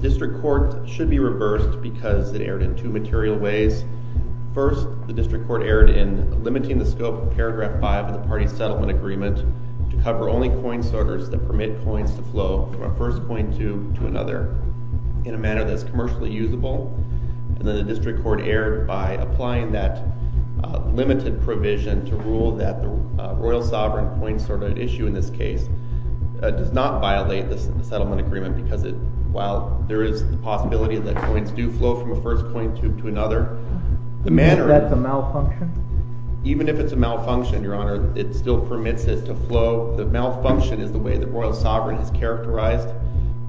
District Court should be reversed because it erred in two material ways. First, the District Court erred in limiting the scope of paragraph 5 of the party's settlement agreement to cover only coin sorters that permit coins to flow from a first coin tube to another in a manner that's commercially usable. And then the District Court erred by applying that limited provision to rule that the Royal Sovereign coin sorter issue in this case does not violate this settlement agreement because it while there is the possibility that coins do flow from a first coin tube to another. Is that a malfunction? Even if it's a malfunction, Your Honor, it still permits it to flow. The malfunction is the way the Royal Sovereign has characterized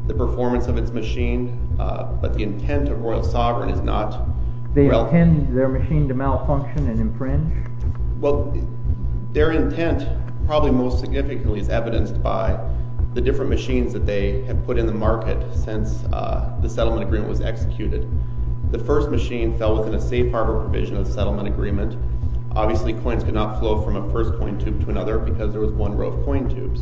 the performance of its machine, but the intent of Royal Sovereign is not... They intend their machine to malfunction and infringe? Well, their intent probably most significantly is evidenced by the different machines that they have put in the market since the settlement agreement was executed. The first machine fell within a safe harbor provision of settlement agreement. Obviously, coins could not flow from a first coin tube to another because there was one row of coin tubes.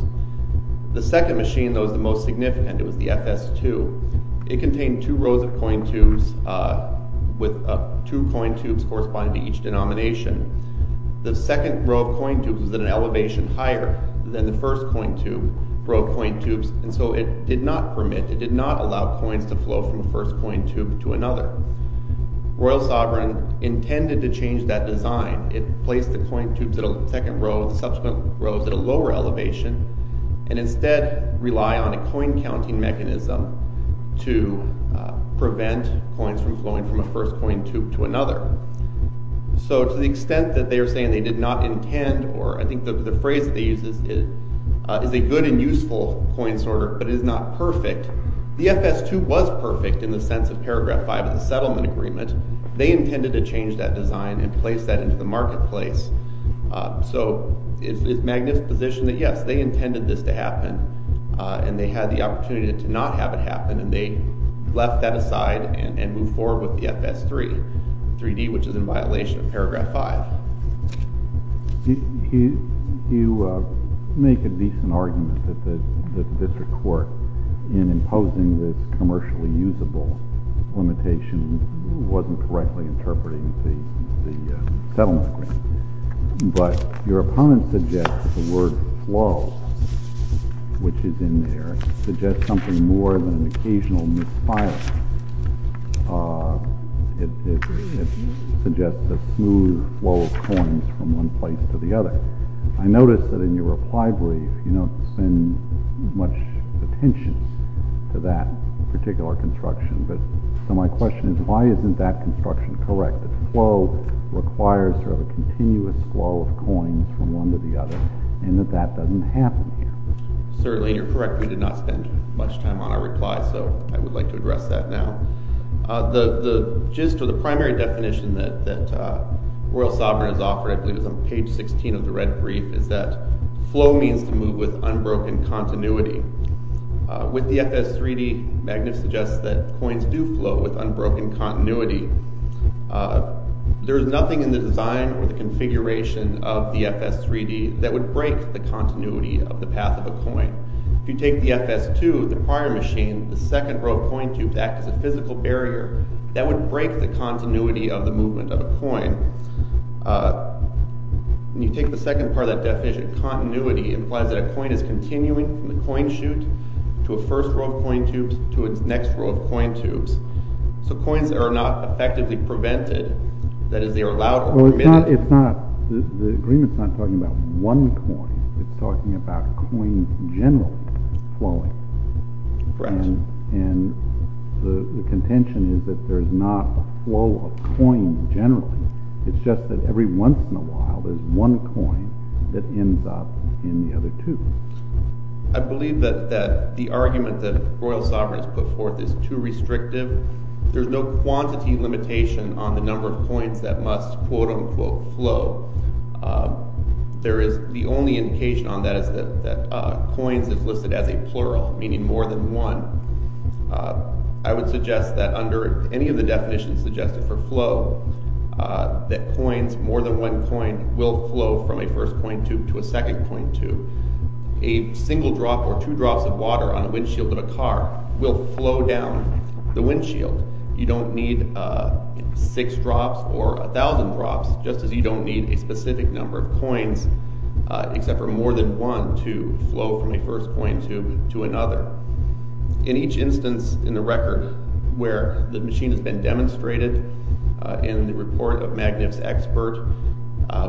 The second machine, though, is the most significant. It was the FS2. It contained two rows of coin tubes with two coin tubes corresponding to each denomination. The second row of coin tubes was at an elevation higher than the first coin tube, row of coin tubes, and so it did not permit, it did not allow coins to flow from the first coin tube to another. Royal Sovereign intended to change that design. It placed the coin tubes at a second row, the subsequent rows at a lower elevation, and instead rely on a coin counting mechanism to prevent coins from flowing from a first coin tube to another. So to the extent that they are saying they did not intend, or I think the phrase they use is a good and useful coin sorter, but it is not perfect. The FS2 was perfect in the sense of Paragraph 5 of the settlement agreement. They intended to change that design and place that into the marketplace. So it's a magnificent position that, yes, they intended this to happen, and they had the opportunity to not have it happen, and they left that aside and moved forward with the FS3, 3D, which is in violation of Paragraph 5. You make a decent argument that this report, in imposing this commercially usable limitation, wasn't correctly interpreting the settlement agreement, but your opponent suggests the word flow, which is in there, suggests something more than an occasional misfire. It suggests a smooth flow of coins from one place to the other. I noticed that in your reply brief, you don't spend much attention to that particular construction, but so my question is, why isn't that construction correct, that flow requires sort of a continuous flow of coins from one to the other, and that that doesn't happen here? Certainly, you're correct. We did not spend much time on our reply, so I would like to address that now. The gist or the primary definition that Royal Sovereign has offered, I believe it was on page 16 of the red brief, is that flow means to move with unbroken continuity. With the FS3D, Magnus suggests that coins do flow with unbroken continuity. There is nothing in the design or the configuration of the FS3D that would break the continuity of the path of a coin. If you take the FS2, the prior machine, the second row coin tube to act as a and you take the second part of that definition, continuity implies that a coin is continuing from the coin chute to a first row of coin tubes to its next row of coin tubes. So coins are not effectively prevented, that is, they are allowed... Well, it's not, the agreement's not talking about one coin, it's talking about coins generally flowing. Correct. And the contention is that there is not a flow of coins generally, it's just that every once in a while there's one coin that ends up in the other two. I believe that the argument that Royal Sovereign has put forth is too restrictive. There's no quantity limitation on the number of coins that must quote-unquote flow. There is, the only indication on that is that coins is listed as a plural, meaning more than one. I would suggest that under any of the definitions suggested for flow, that coins, more than one coin, will flow from a first coin tube to a second coin tube. A single drop or two drops of water on a windshield of a car will flow down the windshield. You don't need six drops or a thousand drops, just as you don't need a specific number of coins except for more than one to flow from a first coin tube to another. In each instance in the record where the machine has been demonstrated in the report of Magnus Expert,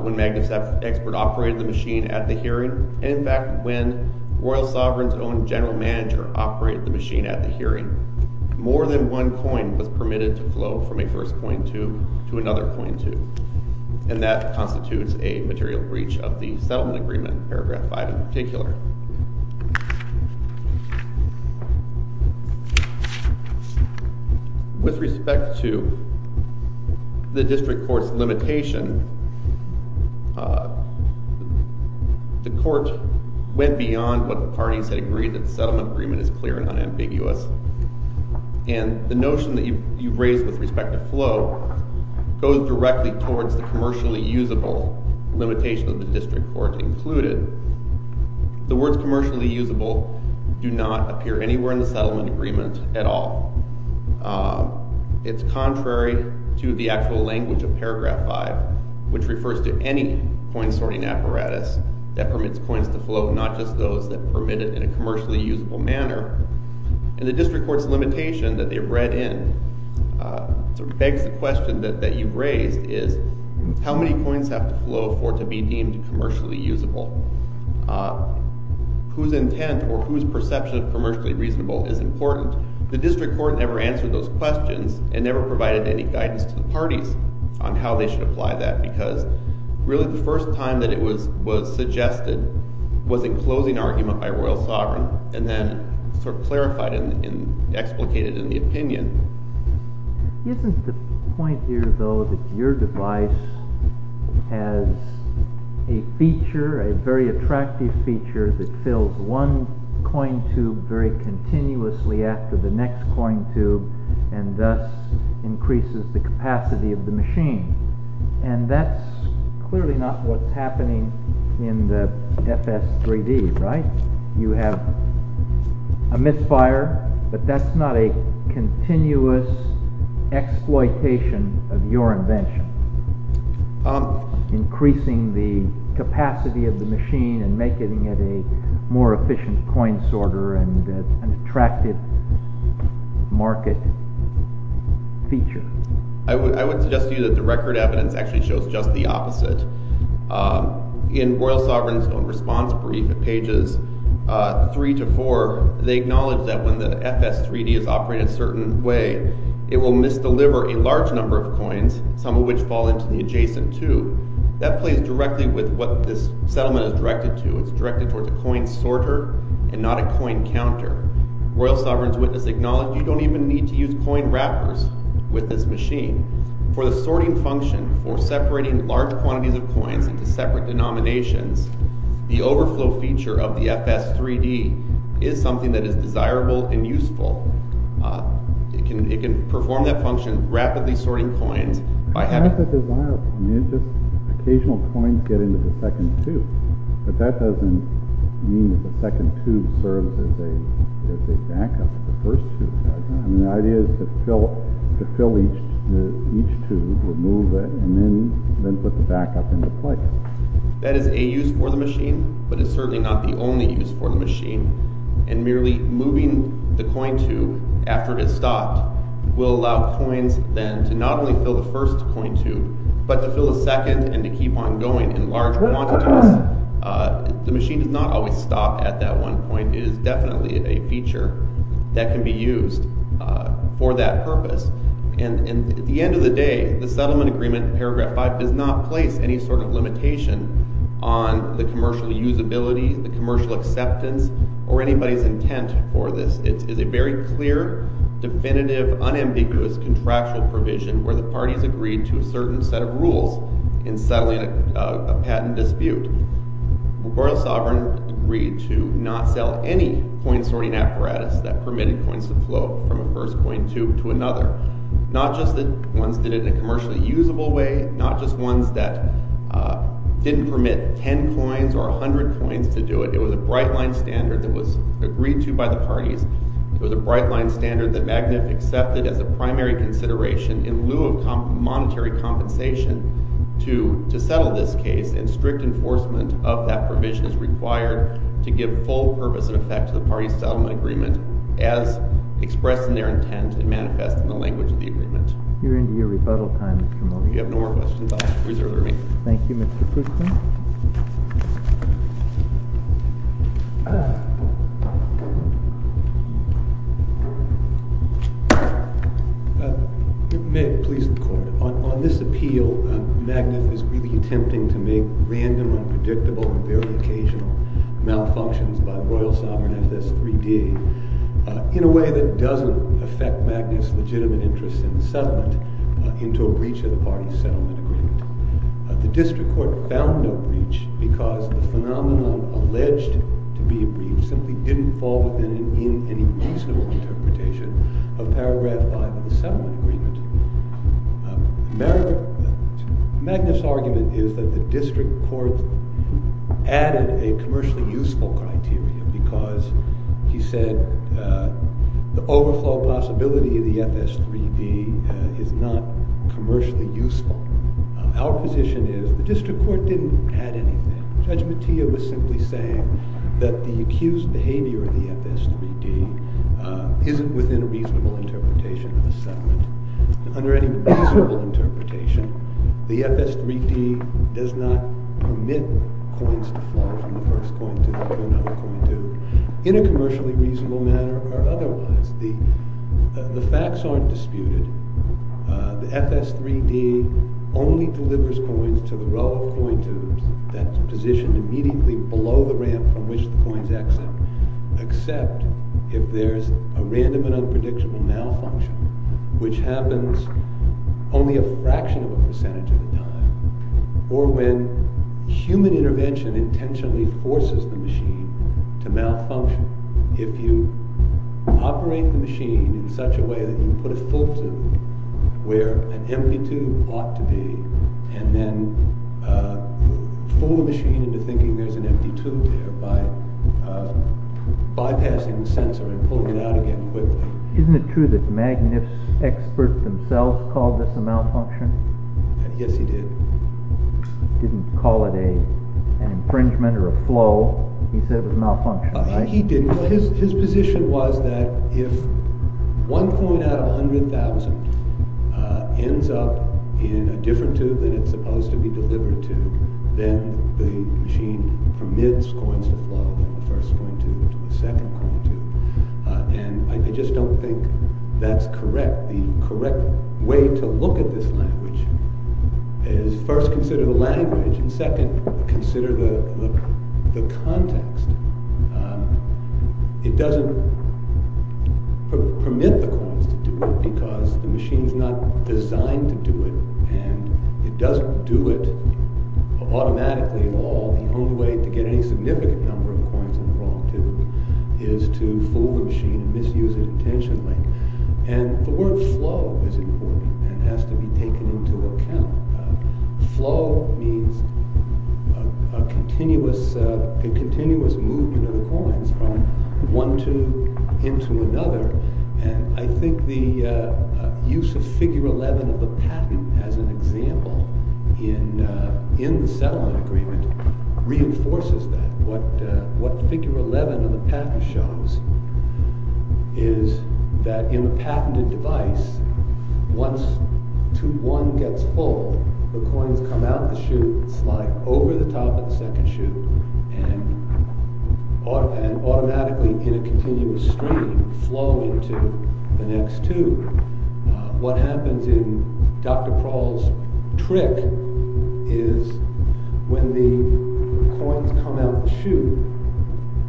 when Magnus Expert operated the machine at the hearing, and in fact when Royal Sovereign's own general manager operated the machine at the hearing, more than one coin was permitted to flow from a first coin tube to another coin tube. And that constitutes a material breach of the settlement agreement, paragraph five in particular. With respect to the district court's limitation, the court went beyond what the parties had agreed that the settlement agreement is clear and unambiguous. And the notion that you've raised with respect to flow goes directly towards the commercially usable limitation of the district court included. The words commercially usable do not appear anywhere in the settlement agreement at all. It's contrary to the actual language of paragraph five, which refers to any coin sorting apparatus that permits coins to flow, not just those that permitted in a commercially usable manner. And the district court's question raised is, how many coins have to flow for it to be deemed commercially usable? Whose intent or whose perception of commercially reasonable is important? The district court never answered those questions and never provided any guidance to the parties on how they should apply that, because really the first time that it was suggested was in closing argument by Royal Sovereign, and then sort of clarified and explicated in the opinion. Isn't the point here though that your device has a feature, a very attractive feature, that fills one coin tube very continuously after the next coin tube and thus increases the capacity of the machine? And that's clearly not what's I would suggest to you that the record evidence actually shows just the opposite. In Royal Sovereign's own response brief at pages three to four, they acknowledge that when the FS3D is operating a certain way, it will misdeliver a large number of coins, some of which fall into the adjacent tube. That plays directly with what this settlement is directed to. It's directed towards a coin sorter and not a coin counter. Royal Sovereign's witness acknowledged you don't even need to use coin wrappers with this machine. For the sorting function, for separating large quantities of coins into separate denominations, the overflow feature of the FS3D is something that is desirable and useful. It can perform that function, rapidly sorting coins. Occasional coins get into the second tube, but that doesn't mean that the second tube serves as a backup to the first tube. The idea is to fill each tube, remove it, and then put the backup into place. That is a use for the machine, but it's certainly not the only use for the machine. And merely moving the coin tube after it has stopped will allow coins then to not only fill the first coin tube, but to fill a second and to keep on going in large quantities. The machine does not always stop at that one point. It is definitely a feature that can be used for that purpose. And at the end of the day, the commercial usability, the commercial acceptance, or anybody's intent for this is a very clear, definitive, unambiguous contractual provision where the parties agreed to a certain set of rules in settling a patent dispute. Royal Sovereign agreed to not sell any coin sorting apparatus that permitted coins to flow from a first coin tube to another. Not just that ones did it in a commercially usable way, not just ones that didn't permit 10 coins or 100 coins to do it. It was a bright line standard that was agreed to by the parties. It was a bright line standard that Magnet accepted as a primary consideration in lieu of monetary compensation to settle this case. And strict enforcement of that provision is required to give full purpose and effect to the parties' settlement agreement as You're into your rebuttal time, Mr. Mone. You have no more questions, I'll reserve the room. Thank you, Mr. Pritchard. May it please the court. On this appeal, Magnet is really attempting to make random, unpredictable, and very occasional malfunctions by Royal Sovereign FS3D in a settlement into a breach of the parties' settlement agreement. The district court found no breach because the phenomenon alleged to be a breach simply didn't fall within any reasonable interpretation of paragraph 5 of the settlement agreement. Magnet's argument is that the district court added a commercially useful criteria because, he said, the criteria is not commercially useful. Our position is the district court didn't add anything. Judge Mattea was simply saying that the accused behavior of the FS3D isn't within a reasonable interpretation of the settlement. Under any reasonable interpretation, the FS3D does not permit coins to fall from the first coin to the second other coin to, in a commercially reasonable manner, or otherwise. The facts aren't disputed. The FS3D only delivers coins to the row of coin tubes that's positioned immediately below the ramp from which the coins exit, except if there's a random and unpredictable malfunction, which happens only a fraction of a percentage of the time, or when human intervention intentionally forces the machine to operate the machine in such a way that you put a full tube where an empty tube ought to be, and then pull the machine into thinking there's an empty tube there by bypassing the sensor and pulling it out again quickly. Isn't it true that Magnif's experts themselves called this a malfunction? Yes, he did. He didn't call it an infringement or a flow. He said it was a malfunction. He didn't. His position was that if one coin out of 100,000 ends up in a different tube than it's supposed to be delivered to, then the machine permits coins to flow from the first coin tube to the second coin tube, and I just don't think that's correct. The correct way to look at this language is first consider the language, and second, consider the context. It doesn't permit the coins to do it because the machine's not designed to do it, and it doesn't do it automatically at all. The only way to get any significant number of coins in the wrong tube is to fool the machine and misuse it intentionally, and the word flow is important and has to be taken into account. Flow means a continuous movement of the coins from one tube into another, and I think the use of figure 11 of the patent as an example in the settlement agreement reinforces that. What figure 11 of the patent shows is that in a patented device, once tube 1 gets full, the coins come out of the chute, slide over the top of the second chute, and automatically in a continuous stream flow into the next tube. What happens in Dr. Prahl's trick is when the coins come out of the chute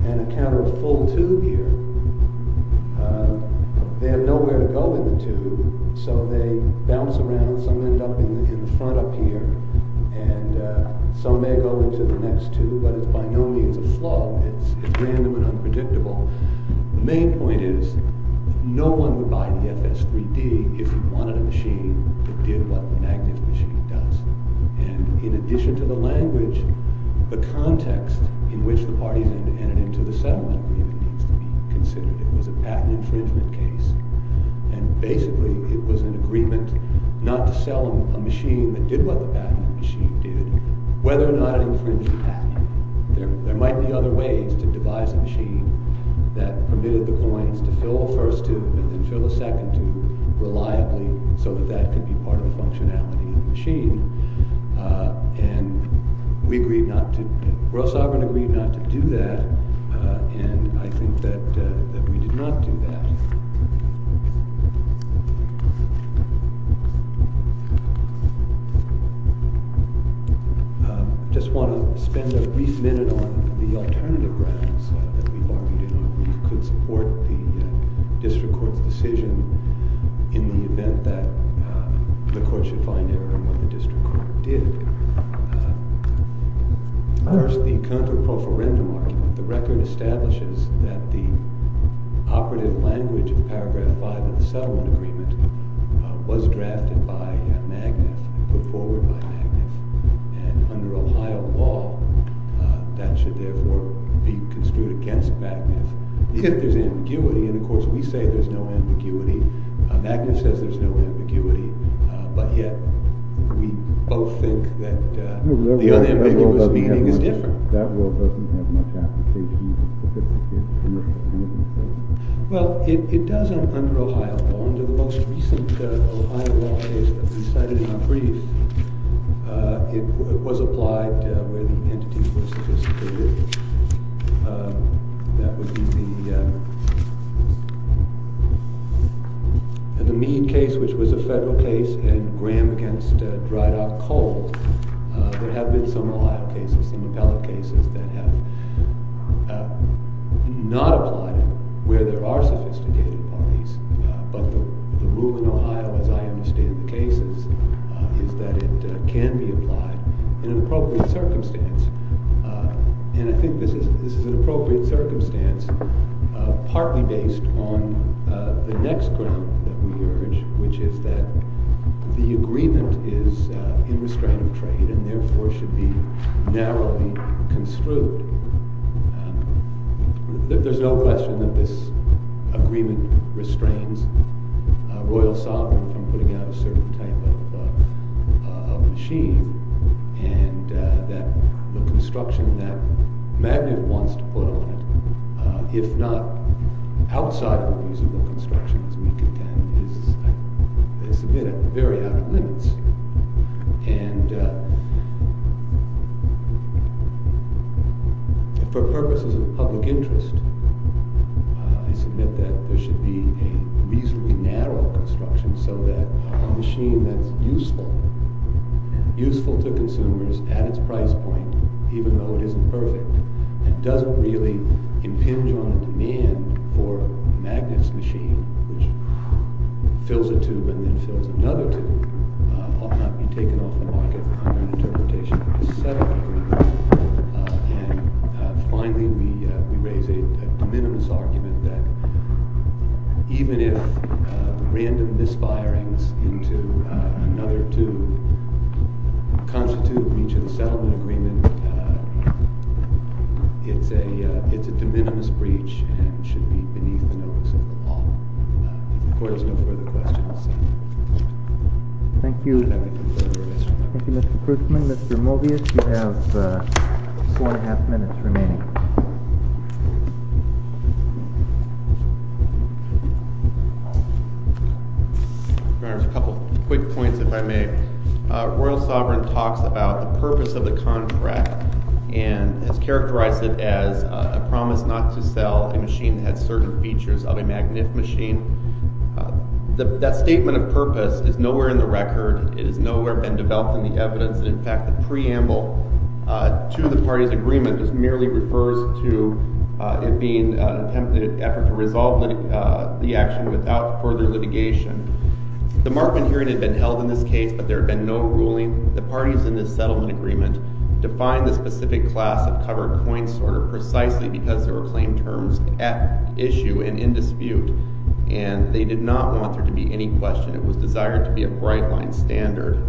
and encounter a full tube here, they have nowhere to go in the tube, so they bounce around. Some end up in the front up here, and some may go into the next tube, but it's by no means a flow. It's random and unpredictable. The main point is no one would buy the FS3D if he wanted a machine that did what the magnetic machine does, and in addition to the language, the context in which the parties entered into the settlement agreement needs to be considered. It was a patent infringement case, and basically it was an agreement not to sell a machine that did what the patent machine did, whether or not it infringed the patent. There might be other ways to devise a machine that permitted the coins to fill a first tube and then fill a second tube reliably so that that could be part of the functionality of the machine. Ross Auburn agreed not to do that, and I think that we did not do that. I just want to spend a brief minute on the alternative grounds that we argued in our brief could support the district court's decision in the event that the court should find error in what the district court did. First, the counter-proferendum argument. The record establishes that the operative language of paragraph 5 of the settlement agreement was drafted by Magnus and put forward by Magnus, and under Ohio law, that should therefore be construed against Magnus. If there's ambiguity, and of course we say there's no ambiguity, Magnus says there's no ambiguity, but yet we both think that the unambiguous meaning is different. Well, it does under Ohio law. Under the most recent Ohio law case that we cited in our brief, it was applied where the entities were sophisticated. That would be the Meade case, which was a federal case, and Graham against Drydock Coal. There have been some Ohio cases, some appellate cases, that have not applied where there are sophisticated parties, but the rule in Ohio, as I understand the cases, is that it can be applied in an appropriate circumstance. And I think this is an appropriate circumstance, partly based on the next ground that we urge, which is that the agreement is in restraint of trade, and therefore should be narrowly construed. There's no question that this agreement restrains royal sovereignty from putting out a certain type of machine, and that the construction that Magnus wants to put on it, if not outside of the feasible construction, as we contend, is a bit very out of limits. And for purposes of public interest, I submit that there should be a reasonably narrow construction so that a machine that's useful, useful to consumers at its price point, even though it isn't perfect, and doesn't really impinge on demand for Magnus' machine, which fills a tube and then fills another tube, ought not be taken off the market under an interpretation of a settlement agreement. And finally, we raise a de minimis argument that even if random misfirings into another tube constitute breach of the settlement agreement, it's a de minimis breach and should be beneath the notice of the law. The court has no further questions. Thank you. Thank you, Mr. Krugman. Mr. Mobius, you have four and a half minutes remaining. There's a couple quick points, if I may. Royal sovereign talks about the purpose of the contract and has characterized it as a promise not to sell a machine that had certain features of a Magnus machine. That statement of purpose is nowhere in the record. It has nowhere been developed in the evidence. In fact, the preamble to the party's agreement just merely refers to it being an attempt to resolve the action without further litigation. The Markman hearing had been held in this case, but there had been no ruling. The parties in this settlement agreement defined the specific class of covered coins precisely because there were claim terms at issue and in dispute, and they did not want there to be any question. It was desired to be a bright-line standard.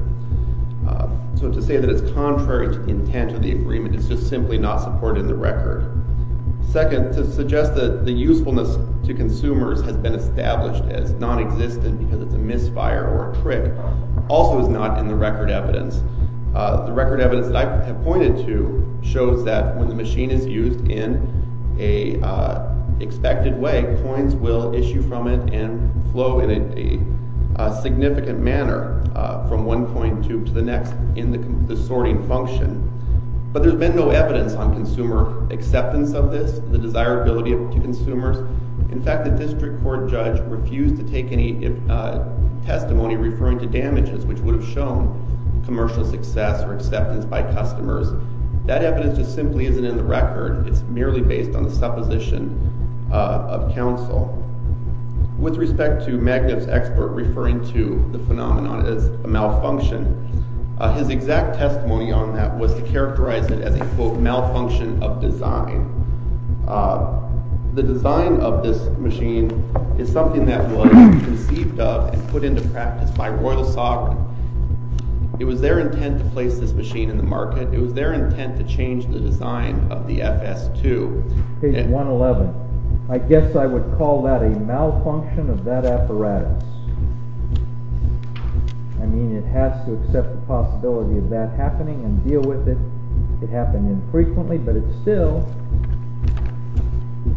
So to say that it's contrary to the intent of the agreement is just simply not supported in the record. Second, to suggest that the usefulness to consumers has been established as nonexistent because it's a misfire or a trick also is not in the record evidence. The record evidence that I have pointed to shows that when the machine is used in an expected way, coins will issue from it and flow in a significant manner from one coin to the next in the sorting function. But there's been no evidence on consumer acceptance of this, the desirability to consumers. In fact, the district court judge refused to take any testimony referring to damages, which would have shown commercial success or acceptance by customers. That evidence just simply isn't in the record. It's merely based on the supposition of counsel. With respect to Magnus' expert referring to the phenomenon as a malfunction, his exact testimony on that was to characterize it as a, quote, malfunction of design. The design of this machine is something that was conceived of and put into practice by Royal Sock. It was their intent to place this machine in the market. It was their intent to change the design of the FS2. Page 111. I guess I would call that a malfunction of that apparatus. I mean, it has to accept the possibility of that happening and deal with it. It happened infrequently, but it still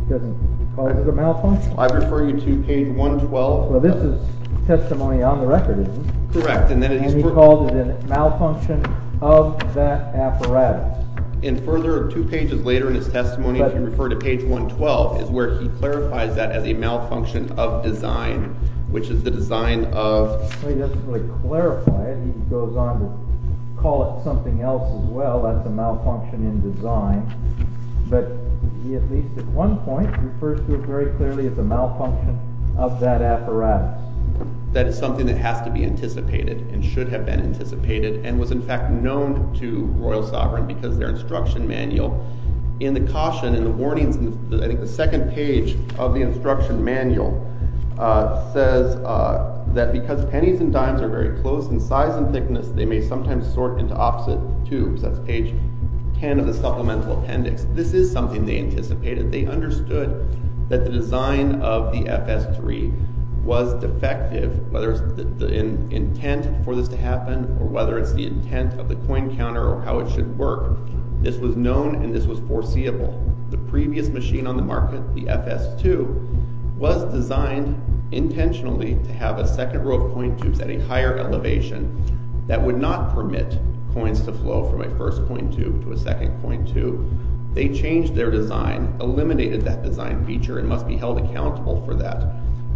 doesn't call it a malfunction. I refer you to page 112. Well, this is testimony on the record, isn't it? Correct. And then he called it a malfunction of that apparatus. And further, two pages later in his testimony, if you refer to page 112, is where he clarifies that as a malfunction of design, which is the design of— Well, he doesn't really clarify it. He goes on to call it something else as well. That's a malfunction in design. But he, at least at one point, refers to it very clearly as a malfunction of that apparatus. That is something that has to be anticipated and should have been anticipated and was, in fact, known to royal sovereign because of their instruction manual. In the caution, in the warnings, I think the second page of the instruction manual says that because pennies and dimes are very close in size and thickness, they may sometimes sort into opposite tubes. That's page 10 of the supplemental appendix. This is something they anticipated. They understood that the design of the FS-3 was defective, whether it's the intent for this to happen or whether it's the intent of the coin counter or how it should work. This was known and this was foreseeable. The previous machine on the market, the FS-2, was designed intentionally to have a second row of coin tubes at a higher elevation that would not permit coins to flow from a first coin tube to a second coin tube. They changed their design, eliminated that design feature, and must be held accountable for that.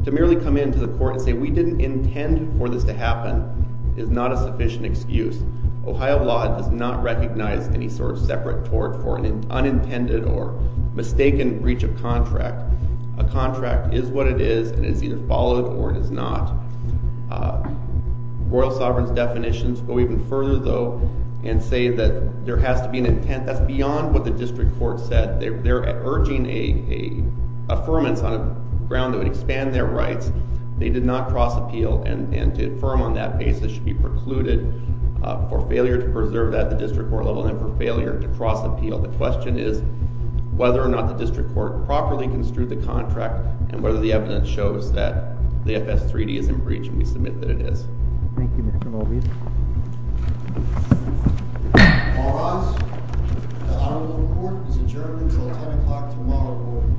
To merely come into the court and say we didn't intend for this to happen is not a sufficient excuse. Ohio law does not recognize any sort of separate tort for an unintended or mistaken breach of contract. A contract is what it is and is either followed or it is not. Royal Sovereign's definitions go even further, though, and say that there has to be an intent. That's beyond what the district court said. They're urging an affirmance on a ground that would expand their rights. They did not cross appeal and to affirm on that basis should be precluded for failure to preserve that at the district court level and for failure to cross appeal. So the question is whether or not the district court properly construed the contract and whether the evidence shows that the FS-3D is in breach. And we submit that it is. Thank you, Mr. Mulvey. All rise. The Honorable Court is adjourned until 10 o'clock tomorrow morning.